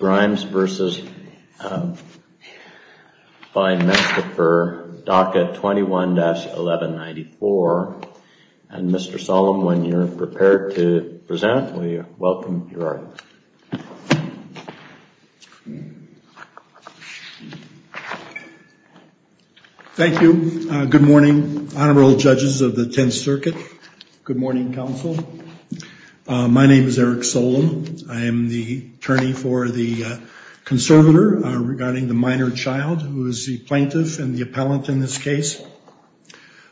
DACA 21-1194, and Mr. Solem, when you're prepared to present, we welcome your arguments. Thank you. Good morning, Honorable Judges of the Tenth Circuit. Good morning, Council. My name is Eric Solem. I am the attorney for the conservator regarding the minor child who is the plaintiff and the appellant in this case.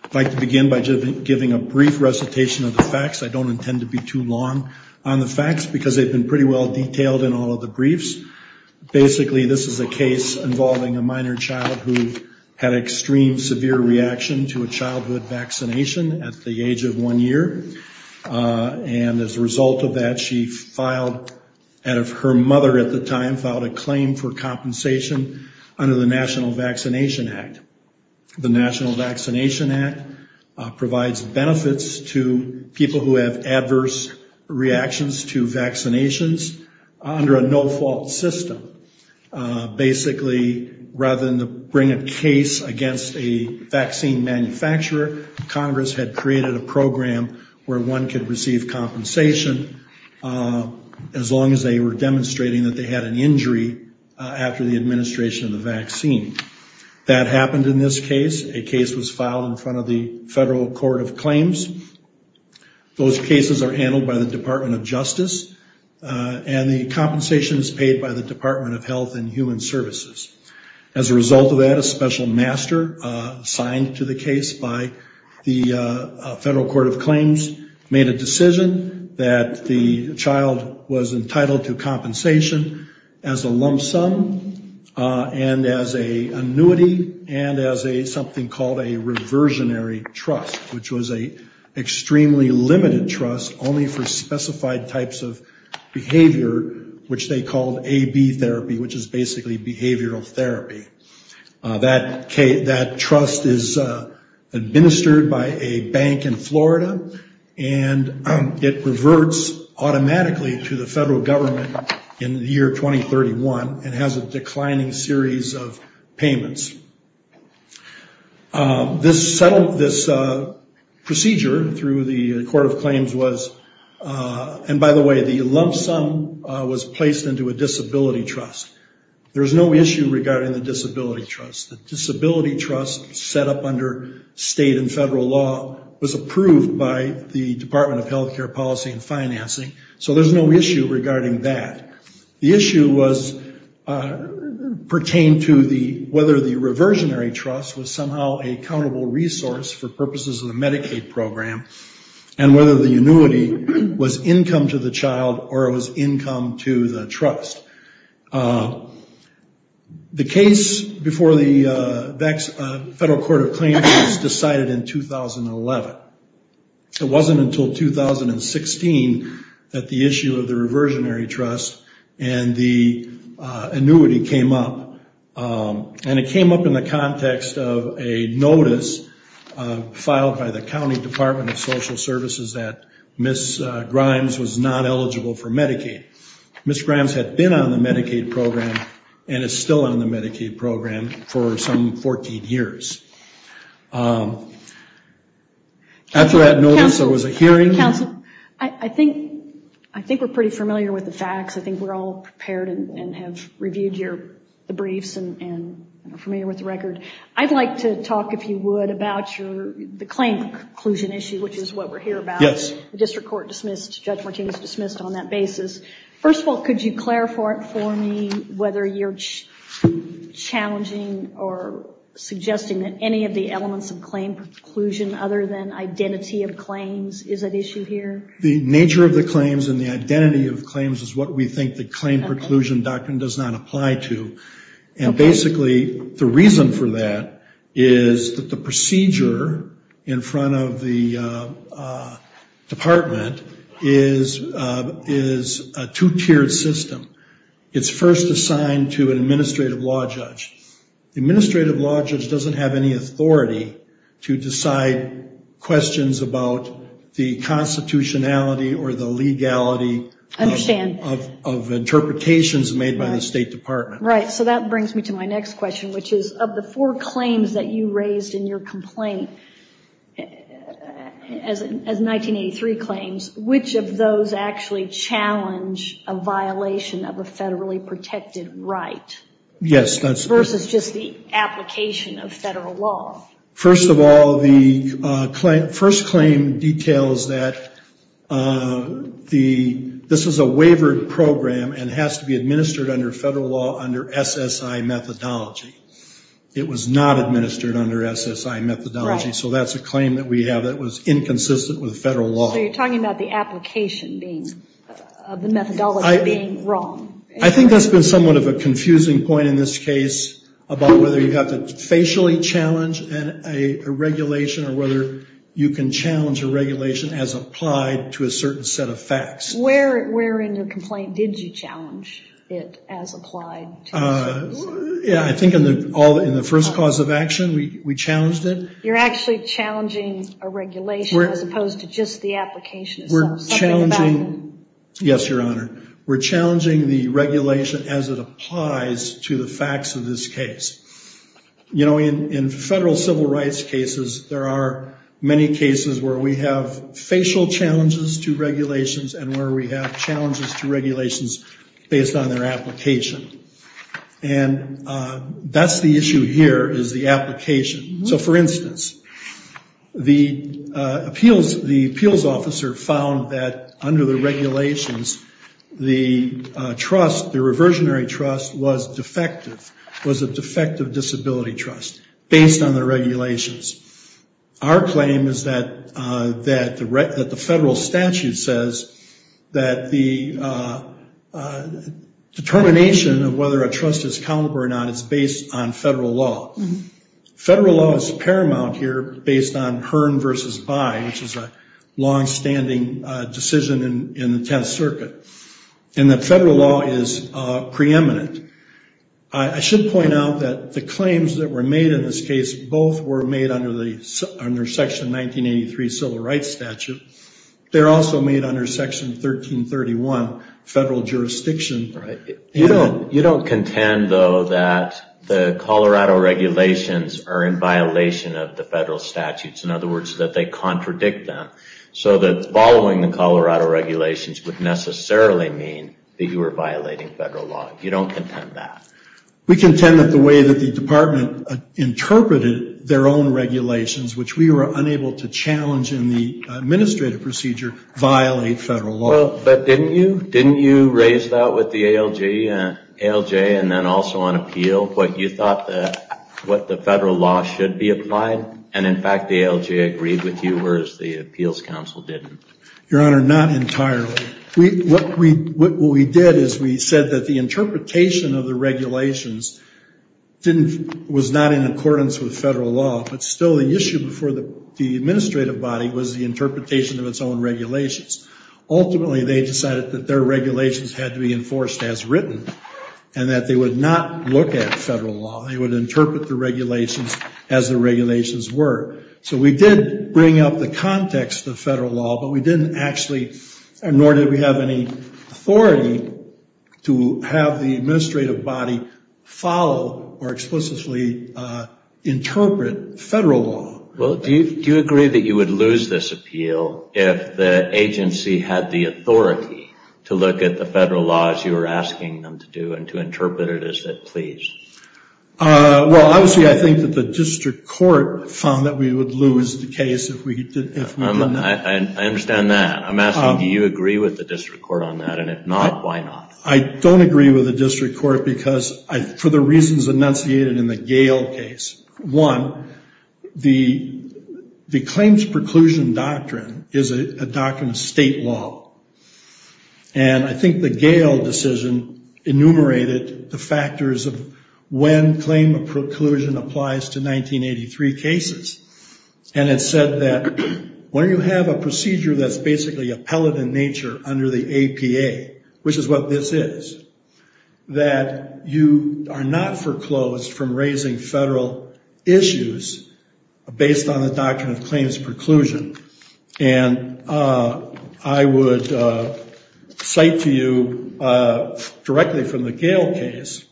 I'd like to begin by giving a brief recitation of the facts. I don't intend to be too long on the facts because they've been pretty well detailed in all of the briefs. Basically, this is a case involving a minor child who had an extreme severe reaction to a childhood vaccination at the age of one year. And as a result of that, she filed, out of her mother at the time, filed a claim for compensation under the National Vaccination Act. The National Vaccination Act provides benefits to people who have adverse reactions to vaccinations under a no-fault system. Basically, rather than bring a case against a vaccine manufacturer, Congress had created a program where one could receive compensation as long as they were demonstrating that they had an injury after the administration of the vaccine. That happened in this case. A case was filed in front of the Federal Court of Claims. Those cases are handled by the Department of Justice, and the compensation is paid by the Department of Health and Human Services. As a result of that, a special master assigned to the case by the Federal Court of Claims made a decision that the child was entitled to compensation as a lump sum and as an annuity and as something called a reversionary trust, which was an extremely limited trust only for specified types of behavior, which they called AB therapy, which is basically behavior therapy. That trust is administered by a bank in Florida, and it reverts automatically to the federal government in the year 2031 and has a declining series of payments. This procedure through the Court of Claims was, and by the way, the lump sum was placed into a disability trust. There's no issue regarding the disability trust. The disability trust set up under state and federal law was approved by the Department of Health Care Policy and Financing, so there's no issue regarding that. The issue was pertained to whether the reversionary trust was somehow a countable resource for purposes of the Medicaid program and whether the annuity was income to the child or it was income to the trust. The case before the Federal Court of Claims was decided in 2011. It wasn't until 2016 that the issue of the reversionary trust and the annuity came up, and it came up in the context of a notice filed by the County Department of Social Services that Ms. Grimes was not eligible for Medicaid. Ms. Grimes had been on the Medicaid program and is still on the Medicaid program for some 14 years. After that notice, there was a hearing. Counsel, I think we're pretty familiar with the facts. I think we're all prepared and have reviewed the briefs and are familiar with the record. I'd like to talk, if you would, about the claim conclusion issue, which is what we're here about. Yes. The district court dismissed, Judge Martinez dismissed on that basis. First of all, could you clarify for me whether you're challenging or suggesting that any of the elements of claim preclusion other than identity of claims is at issue here? The nature of the claims and the identity of claims is what we think the claim preclusion doctrine does not apply to, and basically the reason for that is that the procedure in front of the department is a two-tiered system. It's first assigned to an administrative law judge. The administrative law judge doesn't have any authority to decide questions about the constitutionality or the legality of interpretations made by the State Department. Right. So that brings me to my next question, which is, of the four claims that you raised in your complaint, as 1983 claims, which of those actually challenge a violation of a federally protected right versus just the application of federal law? First of all, the first claim details that this is a wavered program and has to be administered under federal law under SSI methodology. It was not administered under SSI methodology, so that's a claim that we have that was inconsistent with federal law. So you're talking about the application being, of the methodology being wrong. I think that's been somewhat of a confusing point in this case about whether you have to facially challenge a regulation or whether you can challenge a regulation as applied to a certain set of facts. Yeah, I think in the first cause of action, we challenged it. You're actually challenging a regulation as opposed to just the application itself. Something about it. We're challenging. Yes, Your Honor. We're challenging the regulation as it applies to the facts of this case. You know, in federal civil rights cases, there are many cases where we have facial challenges to regulations and where we have challenges to regulations based on their application. And that's the issue here is the application. So for instance, the appeals officer found that under the regulations, the trust, the reversionary trust was defective, was a defective disability trust based on the regulations. Our claim is that the federal statute says that the determination of whether a trust is countable or not is based on federal law. Federal law is paramount here based on Hearn v. Bye, which is a long-standing decision in the Tenth Circuit, and that federal law is preeminent. I should point out that the claims that were made in this case, both were made under Section 1983 Civil Rights Statute. They're also made under Section 1331 Federal Jurisdiction. You don't contend, though, that the Colorado regulations are in violation of the federal statutes. In other words, that they contradict them. So that following the Colorado regulations would necessarily mean that you were violating federal law. You don't contend that. We contend that the way that the department interpreted their own regulations, which we were unable to challenge in the administrative procedure, violate federal law. But didn't you? Didn't you raise that with the ALJ and then also on appeal, what you thought that what the federal law should be applied? And in fact, the ALJ agreed with you, whereas the Appeals Council didn't. Your Honor, not entirely. What we did is we said that the interpretation of the regulations was not in accordance with federal law, but still the issue before the administrative body was the interpretation of its own regulations. Ultimately, they decided that their regulations had to be enforced as written and that they would not look at federal law. They would interpret the regulations as the regulations were. So we did bring up the context of federal law, but we didn't actually, nor did we have any authority to have the administrative body follow or explicitly interpret federal law. Well, do you agree that you would lose this appeal if the agency had the authority to look at the federal laws you were asking them to do and to interpret it as it pleased? Well, obviously I think that the district court found that we would lose the case if we did that. I understand that. I'm asking do you agree with the district court on that, and if not, why not? I don't agree with the district court because, for the reasons enunciated in the Gale case, one, the claims preclusion doctrine is a doctrine of state law, and I think the Gale decision enumerated the factors of when claim of preclusion applies to 1983 cases. And it said that when you have a procedure that's basically a pellet in nature under the APA, which is what this is, that you are not foreclosed from raising federal issues based on the doctrine of claims preclusion. And I would cite to you directly from the Gale case,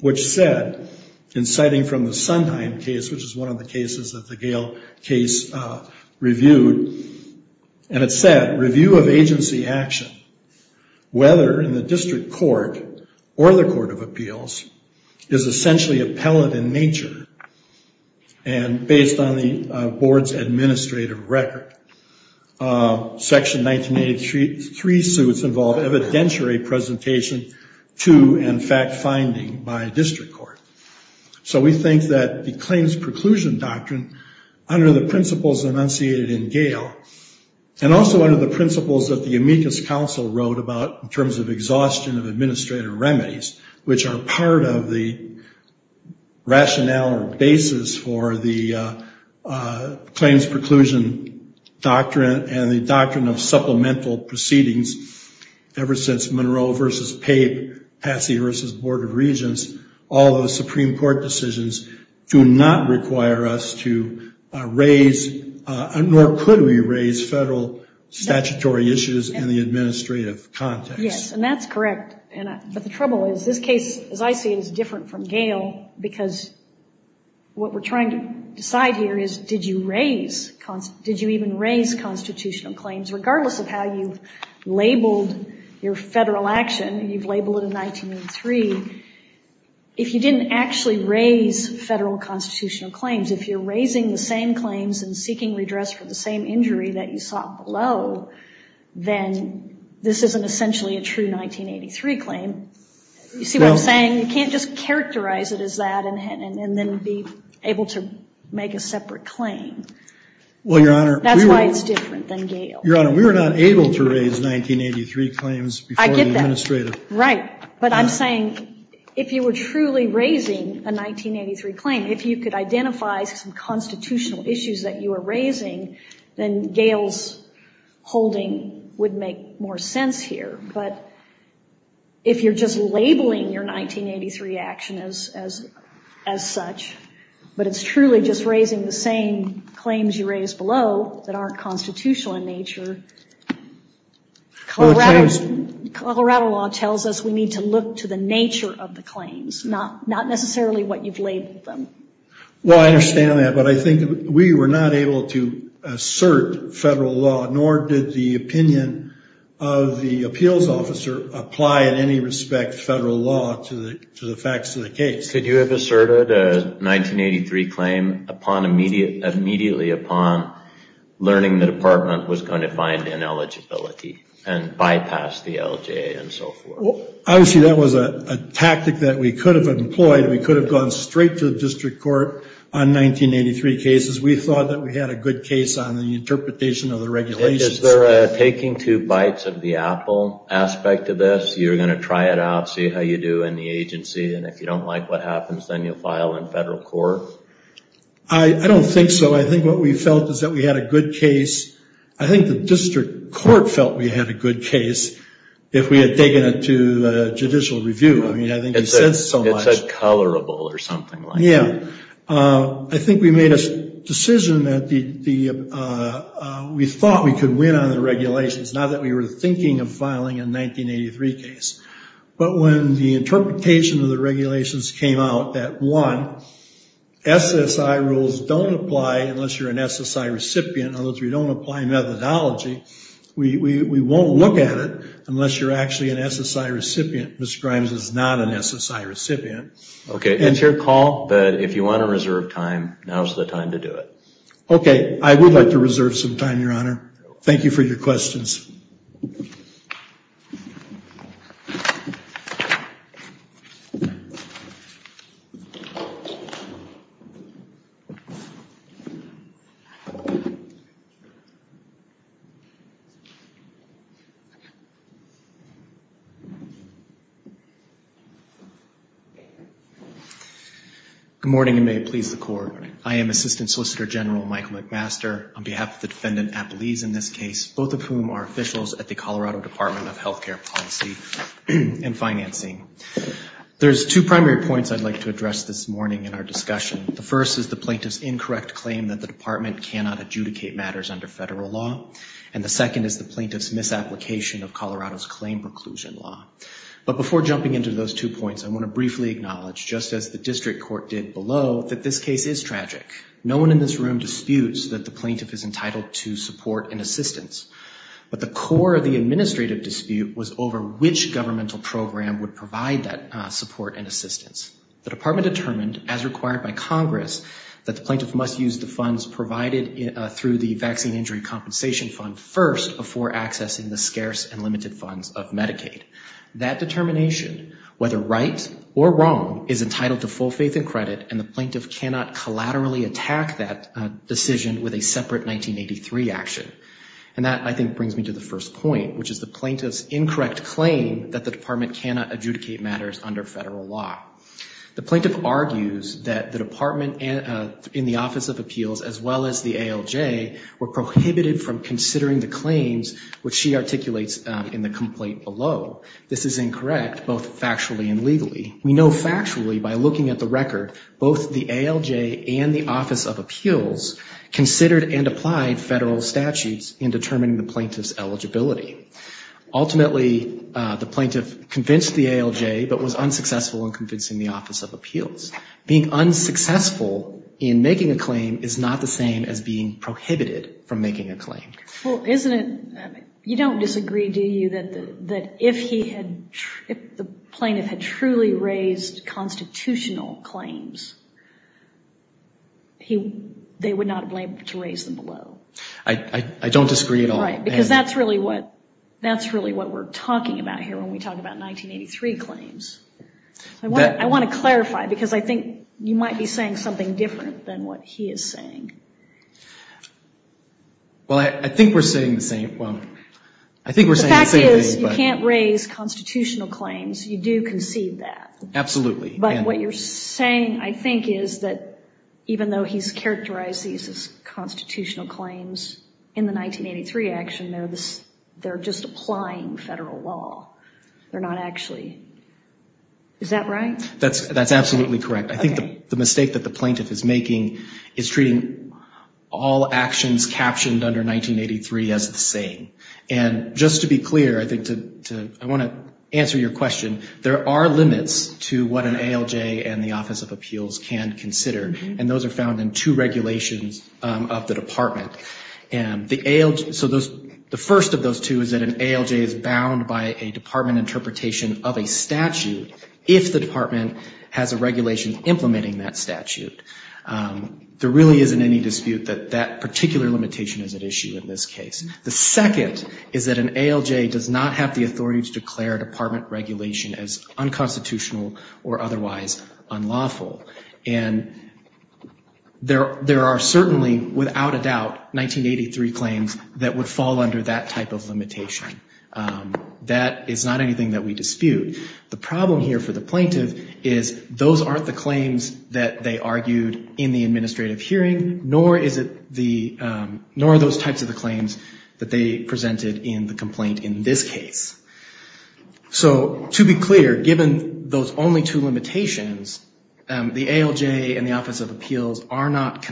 which said, in citing from the Sondheim case, which is one of the cases that the Gale case reviewed, and it said, review of agency action, whether in the district court or the court of appeals, is essentially a pellet in nature and based on the board's administrative record. Section 1983 suits involved evidentiary presentation to and fact-finding by district court. So we think that the claims preclusion doctrine, under the principles enunciated in Gale, and also under the principles that the amicus council wrote about in terms of exhaustion of administrative remedies, which are part of the rationale or basis for the claims preclusion doctrine and the doctrine of supplemental proceedings, ever since Monroe v. Pape, Patsy v. Board of Regents, all those Supreme Court decisions do not require us to raise, nor could we raise, federal statutory issues in the administrative context. Yes, and that's correct. But the trouble is, this case, as I see it, is different from Gale, because what we're trying to decide here is, did you even raise constitutional claims, regardless of how you've labeled your federal action, and you've labeled it in 1983. If you didn't actually raise federal constitutional claims, if you're raising the same claims and seeking redress for the same injury that you sought below, then this isn't essentially a true 1983 claim. You see what I'm saying? You can't just characterize it as that and then be able to make a separate claim. Well, Your Honor, we were not able to raise 1983 claims before the administrative Right, but I'm saying, if you were truly raising a 1983 claim, if you could identify some constitutional issues that you were raising, then Gale's holding would make more sense here. But if you're just labeling your 1983 action as such, but it's truly just raising the same claims you raised below, that aren't constitutional in nature, Colorado law tells us we need to look to the nature of the claims, not necessarily what you've labeled them. Well, I understand that, but I think we were not able to assert federal law, nor did the opinion of the appeals officer apply in any respect federal law to the facts of the case. Could you have asserted a 1983 claim immediately upon learning the department was going to find ineligibility and bypass the LJA and so forth? Obviously, that was a tactic that we could have employed. We could have gone straight to the district court on 1983 cases. We thought that we had a good case on the interpretation of the regulations. Is there a taking two bites of the apple aspect of this? You're going to try it out, see how you do in the agency, and if you don't like what happens, then you'll file in federal court? I don't think so. I think what we felt is that we had a good case. I think the district court felt we had a good case if we had taken it to judicial review. I mean, I think you said so much. It said colorable or something like that. Yeah, I think we made a decision that we thought we could win on the regulations, not that we were thinking of filing a 1983 case. But when the interpretation of the regulations came out that one, SSI rules don't apply unless you're an SSI recipient, unless you don't apply methodology, we won't look at it unless you're actually an SSI recipient. Ms. Grimes is not an SSI recipient. OK, it's your call, but if you want to reserve time, now's the time to do it. OK, I would like to reserve some time, Your Honor. Thank you for your questions. Good morning, and may it please the Court. I am Assistant Solicitor General Michael McMaster, on behalf of the defendant, Appelese, in this case, both of whom are officials at the Colorado Department of Healthcare Policy and Financing. There's two primary points I'd like to address this morning in our discussion. The first is the plaintiff's incorrect claim that the department cannot adjudicate matters under federal law, and the second is the plaintiff's misapplication of Colorado's claim preclusion law. But before jumping into those two points, I want to briefly acknowledge, just as the district court did below, that this case is tragic. No one in this room disputes that the plaintiff is entitled to support and assistance. But the core of the administrative dispute was over which governmental program would provide that support and assistance. The department determined, as required by Congress, that the plaintiff must use the funds provided through the Vaccine Injury Compensation Fund first before accessing the That determination, whether right or wrong, is entitled to full faith and credit, and the plaintiff cannot collaterally attack that decision with a separate 1983 action. And that, I think, brings me to the first point, which is the plaintiff's incorrect claim that the department cannot adjudicate matters under federal law. The plaintiff argues that the department in the Office of Appeals, as well as the ALJ, were prohibited from considering the claims which she articulates in the complaint below. This is incorrect, both factually and legally. We know factually, by looking at the record, both the ALJ and the Office of Appeals considered and applied federal statutes in determining the plaintiff's eligibility. Ultimately, the plaintiff convinced the ALJ, but was unsuccessful in convincing the Office of Appeals. Being unsuccessful in making a claim is not the same as being prohibited from making a claim. Well, isn't it, you don't disagree, do you, that if he had, if the plaintiff had truly raised constitutional claims, they would not have been able to raise them below? I don't disagree at all. Right, because that's really what we're talking about here when we talk about 1983 claims. I want to clarify, because I think you might be saying something different than what he is saying. Well, I think we're saying the same, well, I think we're saying the same thing, but. The fact is, you can't raise constitutional claims, you do concede that. Absolutely. But what you're saying, I think, is that even though he's characterized these as constitutional claims, in the 1983 action, they're just applying federal law, they're not actually, is that right? That's absolutely correct. Okay. But I think the mistake that the plaintiff is making is treating all actions captioned under 1983 as the same. And just to be clear, I think to, I want to answer your question. There are limits to what an ALJ and the Office of Appeals can consider. And those are found in two regulations of the department. And the ALJ, so those, the first of those two is that an ALJ is bound by a department interpretation of a statute if the department has a regulation implementing that statute. There really isn't any dispute that that particular limitation is at issue in this case. The second is that an ALJ does not have the authority to declare department regulation as unconstitutional or otherwise unlawful. And there are certainly, without a doubt, 1983 claims that would fall under that type of limitation. That is not anything that we dispute. The problem here for the plaintiff is those aren't the claims that they argued in the administrative hearing, nor is it the, nor are those types of the claims that they presented in the complaint in this case. So to be clear, given those only two limitations, the ALJ and the Office of Appeals are not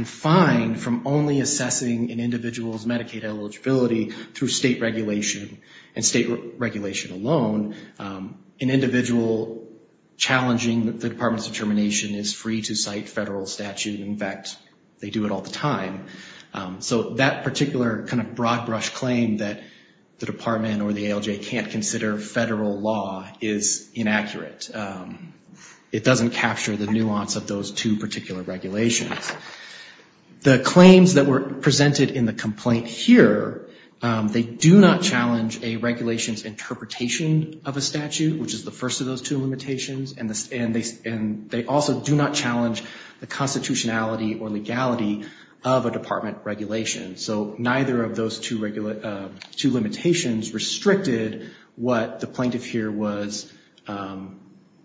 and state regulation alone, an individual challenging the department's determination is free to cite federal statute. In fact, they do it all the time. So that particular kind of broad brush claim that the department or the ALJ can't consider federal law is inaccurate. It doesn't capture the nuance of those two particular regulations. The claims that were presented in the complaint here, they do not challenge a regulation's interpretation of a statute, which is the first of those two limitations, and they also do not challenge the constitutionality or legality of a department regulation. So neither of those two limitations restricted what the plaintiff here was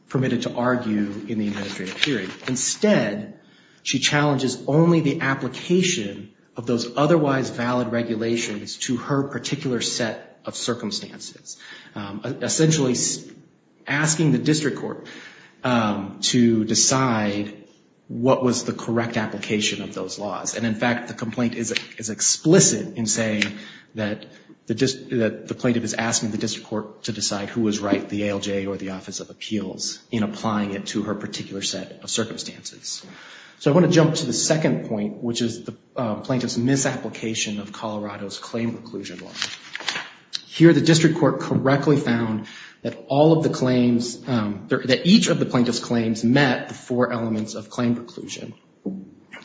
permitted to argue in the administrative hearing. Instead, she challenges only the application of those otherwise valid regulations to her particular set of circumstances, essentially asking the district court to decide what was the correct application of those laws. And in fact, the complaint is explicit in saying that the plaintiff is asking the district court to decide who was right, the ALJ or the Office of Appeals, in applying it to her particular circumstances. So I want to jump to the second point, which is the plaintiff's misapplication of Colorado's claim preclusion law. Here the district court correctly found that each of the plaintiff's claims met the four elements of claim preclusion.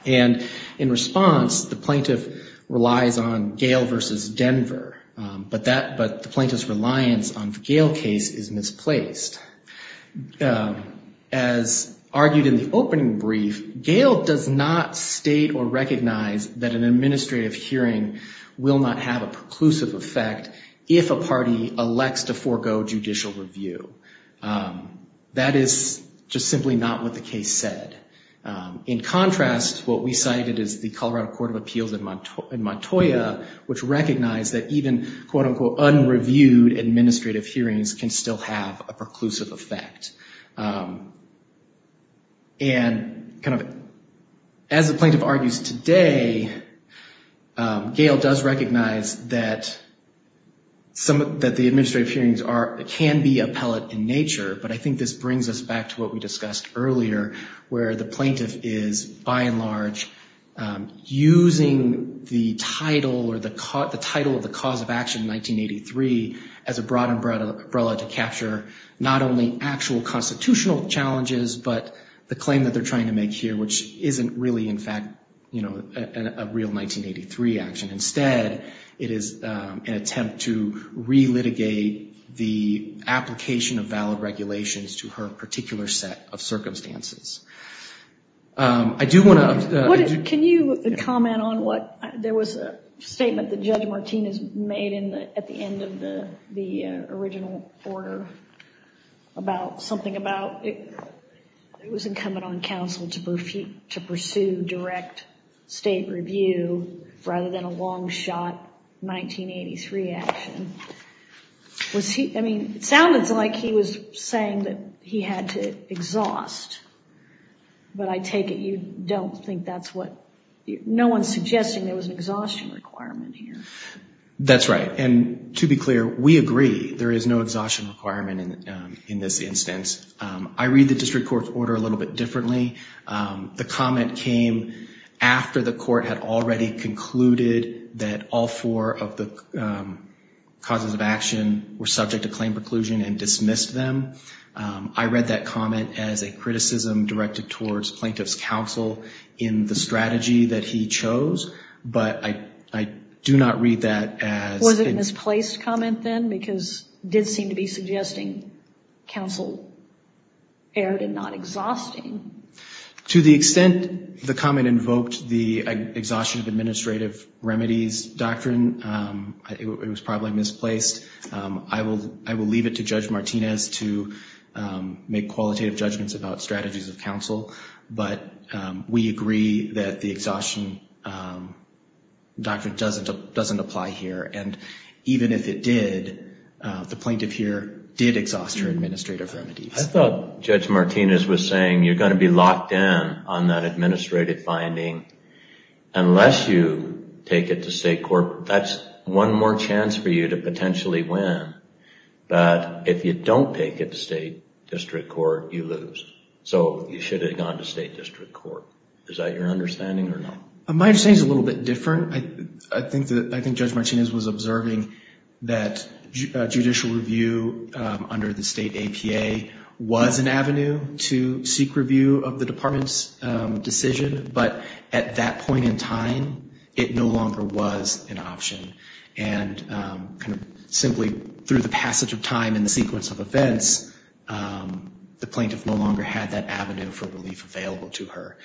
And in response, the plaintiff relies on Gale v. Denver, but the plaintiff's reliance on the Gale case is misplaced. As argued in the opening brief, Gale does not state or recognize that an administrative hearing will not have a preclusive effect if a party elects to forego judicial review. That is just simply not what the case said. In contrast, what we cited is the Colorado Court of Appeals in Montoya, which recognized that even quote-unquote unreviewed administrative hearings can still have a preclusive effect. And kind of as the plaintiff argues today, Gale does recognize that some, that the administrative hearings are, can be appellate in nature, but I think this brings us back to what we discussed earlier, where the plaintiff is by and large using the title or the title of the cause of action in 1983 as a broad umbrella to capture not only actual constitutional challenges, but the claim that they're trying to make here, which isn't really in fact, you know, a real 1983 action. Instead, it is an attempt to re-litigate the application of valid regulations to her particular set of circumstances. I do want to... Can you comment on what... There was a statement that Judge Martinez made at the end of the original order about something about it was incumbent on counsel to pursue direct state review rather than a long shot 1983 action. Was he... I mean, it sounded like he was saying that he had to exhaust, but I take it you don't think that's what... No one's suggesting there was an exhaustion requirement here. That's right. And to be clear, we agree there is no exhaustion requirement in this instance. I read the district court's order a little bit differently. The comment came after the court had already concluded that all four of the causes of action were subject to claim preclusion and dismissed them. I read that comment as a criticism directed towards plaintiff's counsel in the strategy that he chose, but I do not read that as... Was it a misplaced comment then? Because it did seem to be suggesting counsel erred in not exhausting. To the extent the comment invoked the exhaustion of administrative remedies doctrine, it was probably misplaced. I will leave it to Judge Martinez to make qualitative judgments about strategies of counsel, but we agree that the exhaustion doctrine doesn't apply here. And even if it did, the plaintiff here did exhaust her administrative remedies. I thought Judge Martinez was saying you're going to be locked in on that administrative finding unless you take it to state court. That's one more chance for you to potentially win, but if you don't take it to state district court, you lose. So you should have gone to state district court. Is that your understanding or not? My understanding is a little bit different. I think Judge Martinez was observing that judicial review under the state APA was an But at that point in time, it no longer was an option. And simply through the passage of time and the sequence of events, the plaintiff no longer had that avenue for relief available to her.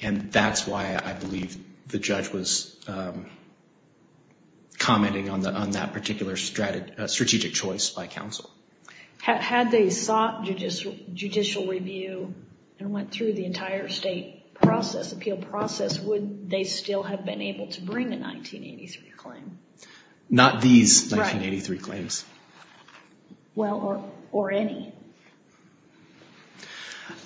And that's why I believe the judge was commenting on that particular strategic choice by counsel. Had they sought judicial review and went through the entire state process, appeal process, would they still have been able to bring a 1983 claim? Not these 1983 claims. Right. Well, or any.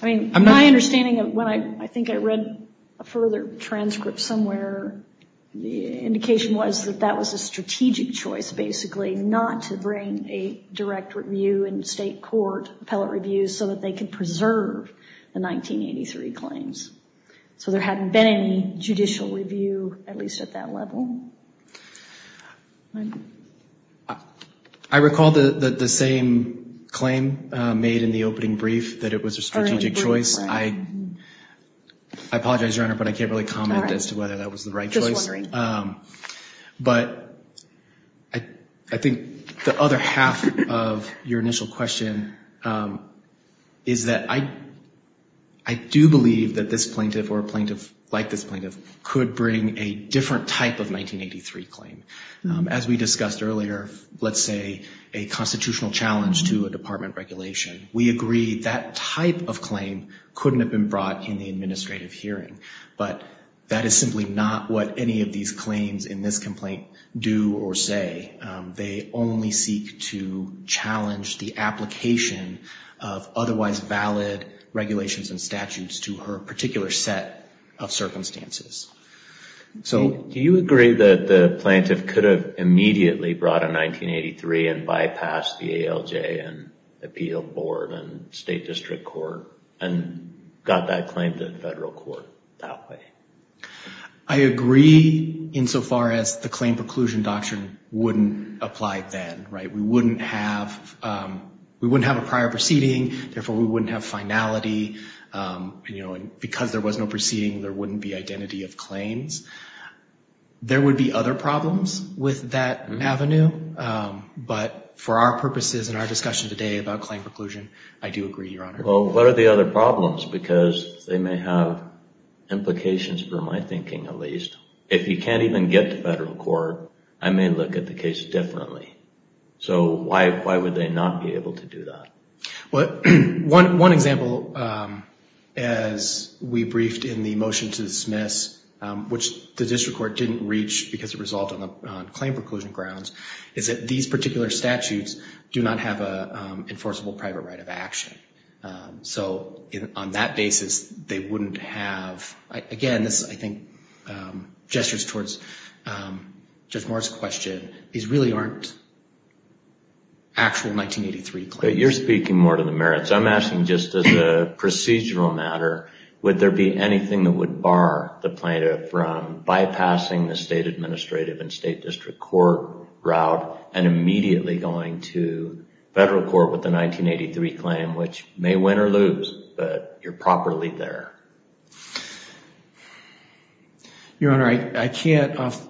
I mean, my understanding of when I think I read a further transcript somewhere, the indication was that that was a strategic choice, basically, not to bring a direct review and state court appellate review so that they could preserve the 1983 claims. So there hadn't been any judicial review, at least at that level. I recall the same claim made in the opening brief that it was a strategic choice. I apologize, Your Honor, but I can't really comment as to whether that was the right choice. But I think the other half of your initial question is that I do believe that this plaintiff or a plaintiff like this plaintiff could bring a different type of 1983 claim. As we discussed earlier, let's say a constitutional challenge to a department regulation. We agree that type of claim couldn't have been brought in the administrative hearing, but that is simply not what any of these claims in this complaint do or say. They only seek to challenge the application of otherwise valid regulations and statutes to her particular set of circumstances. So do you agree that the plaintiff could have immediately brought a 1983 and bypassed the ALJ and appeal board and state district court and got that claim to the federal court? That way. I agree insofar as the claim preclusion doctrine wouldn't apply then, right? We wouldn't have a prior proceeding. Therefore, we wouldn't have finality. Because there was no proceeding, there wouldn't be identity of claims. There would be other problems with that avenue. But for our purposes and our discussion today about claim preclusion, I do agree, Your Honor. Well, what are the other problems? Because they may have implications for my thinking at least. If you can't even get to federal court, I may look at the case differently. So why would they not be able to do that? Well, one example, as we briefed in the motion to dismiss, which the district court didn't reach because it resolved on claim preclusion grounds, is that these particular statutes do not have an enforceable private right of action. So on that basis, they wouldn't have... Again, this, I think, gestures towards Judge Moore's question. These really aren't actual 1983 claims. You're speaking more to the merits. I'm asking just as a procedural matter, would there be anything that would bar the plaintiff from bypassing the state administrative and state district court route and immediately going to federal court with the 1983 claim, which may win or lose, but you're properly there? Your Honor, I can't off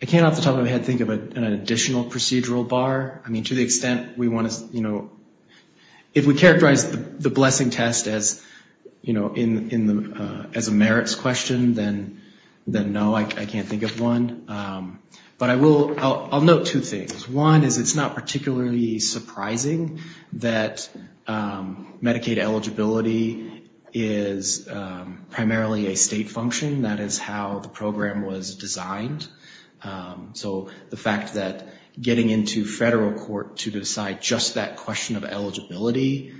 the top of my head think of an additional procedural bar. I mean, to the extent we want to... If we characterize the blessing test as a merits question, then no, I can't think of one. But I'll note two things. One is it's not particularly surprising that Medicaid eligibility is primarily a state function. That is how the program was designed. So the fact that getting into federal court to decide just that question of eligibility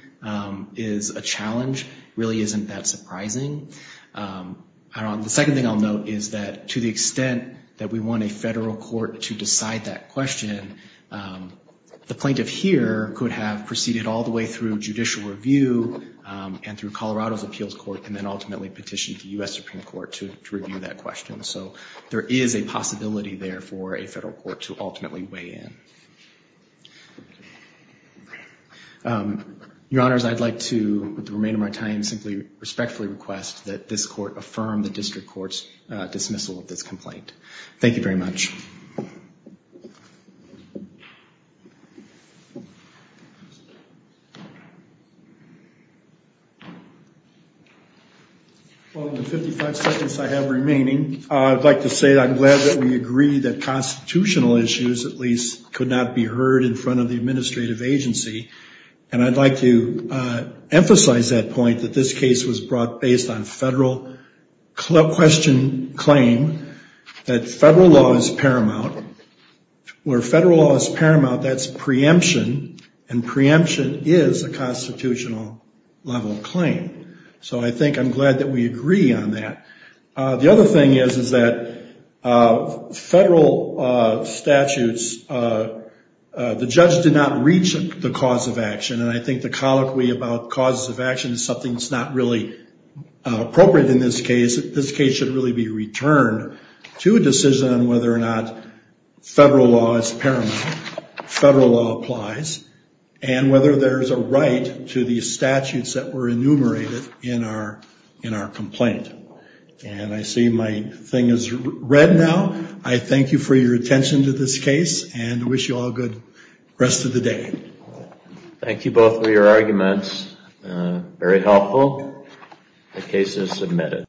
is a challenge really isn't that surprising. The second thing I'll note is that to the extent that we want a federal court to decide that question, the plaintiff here could have proceeded all the way through judicial review and through Colorado's appeals court, and then ultimately petitioned the U.S. Supreme Court to review that question. So there is a possibility there for a federal court to ultimately weigh in. Your Honors, I'd like to, with the remainder of my time, simply respectfully request that this court affirm the district court's dismissal of this complaint. Thank you very much. Well, in the 55 seconds I have remaining, I'd like to say I'm glad that we agree that constitutional issues, at least, could not be heard in front of the administrative agency. And I'd like to emphasize that point, that this case was brought based on federal question claim, that federal law is paramount. Where federal law is paramount, that's preemption, and preemption is a constitutional level claim. So I think I'm glad that we agree on that. The other thing is, is that federal statutes, the judge did not reach the cause of action. And I think the colloquy about causes of action is something that's not really appropriate in this case. This case should really be returned to a decision on whether or not federal law is paramount, federal law applies, and whether there's a right to the statutes that were enumerated in our complaint. And I see my thing is read now. I thank you for your attention to this case and wish you all a good rest of the day. Thank you both for your arguments. Very helpful. The case is submitted.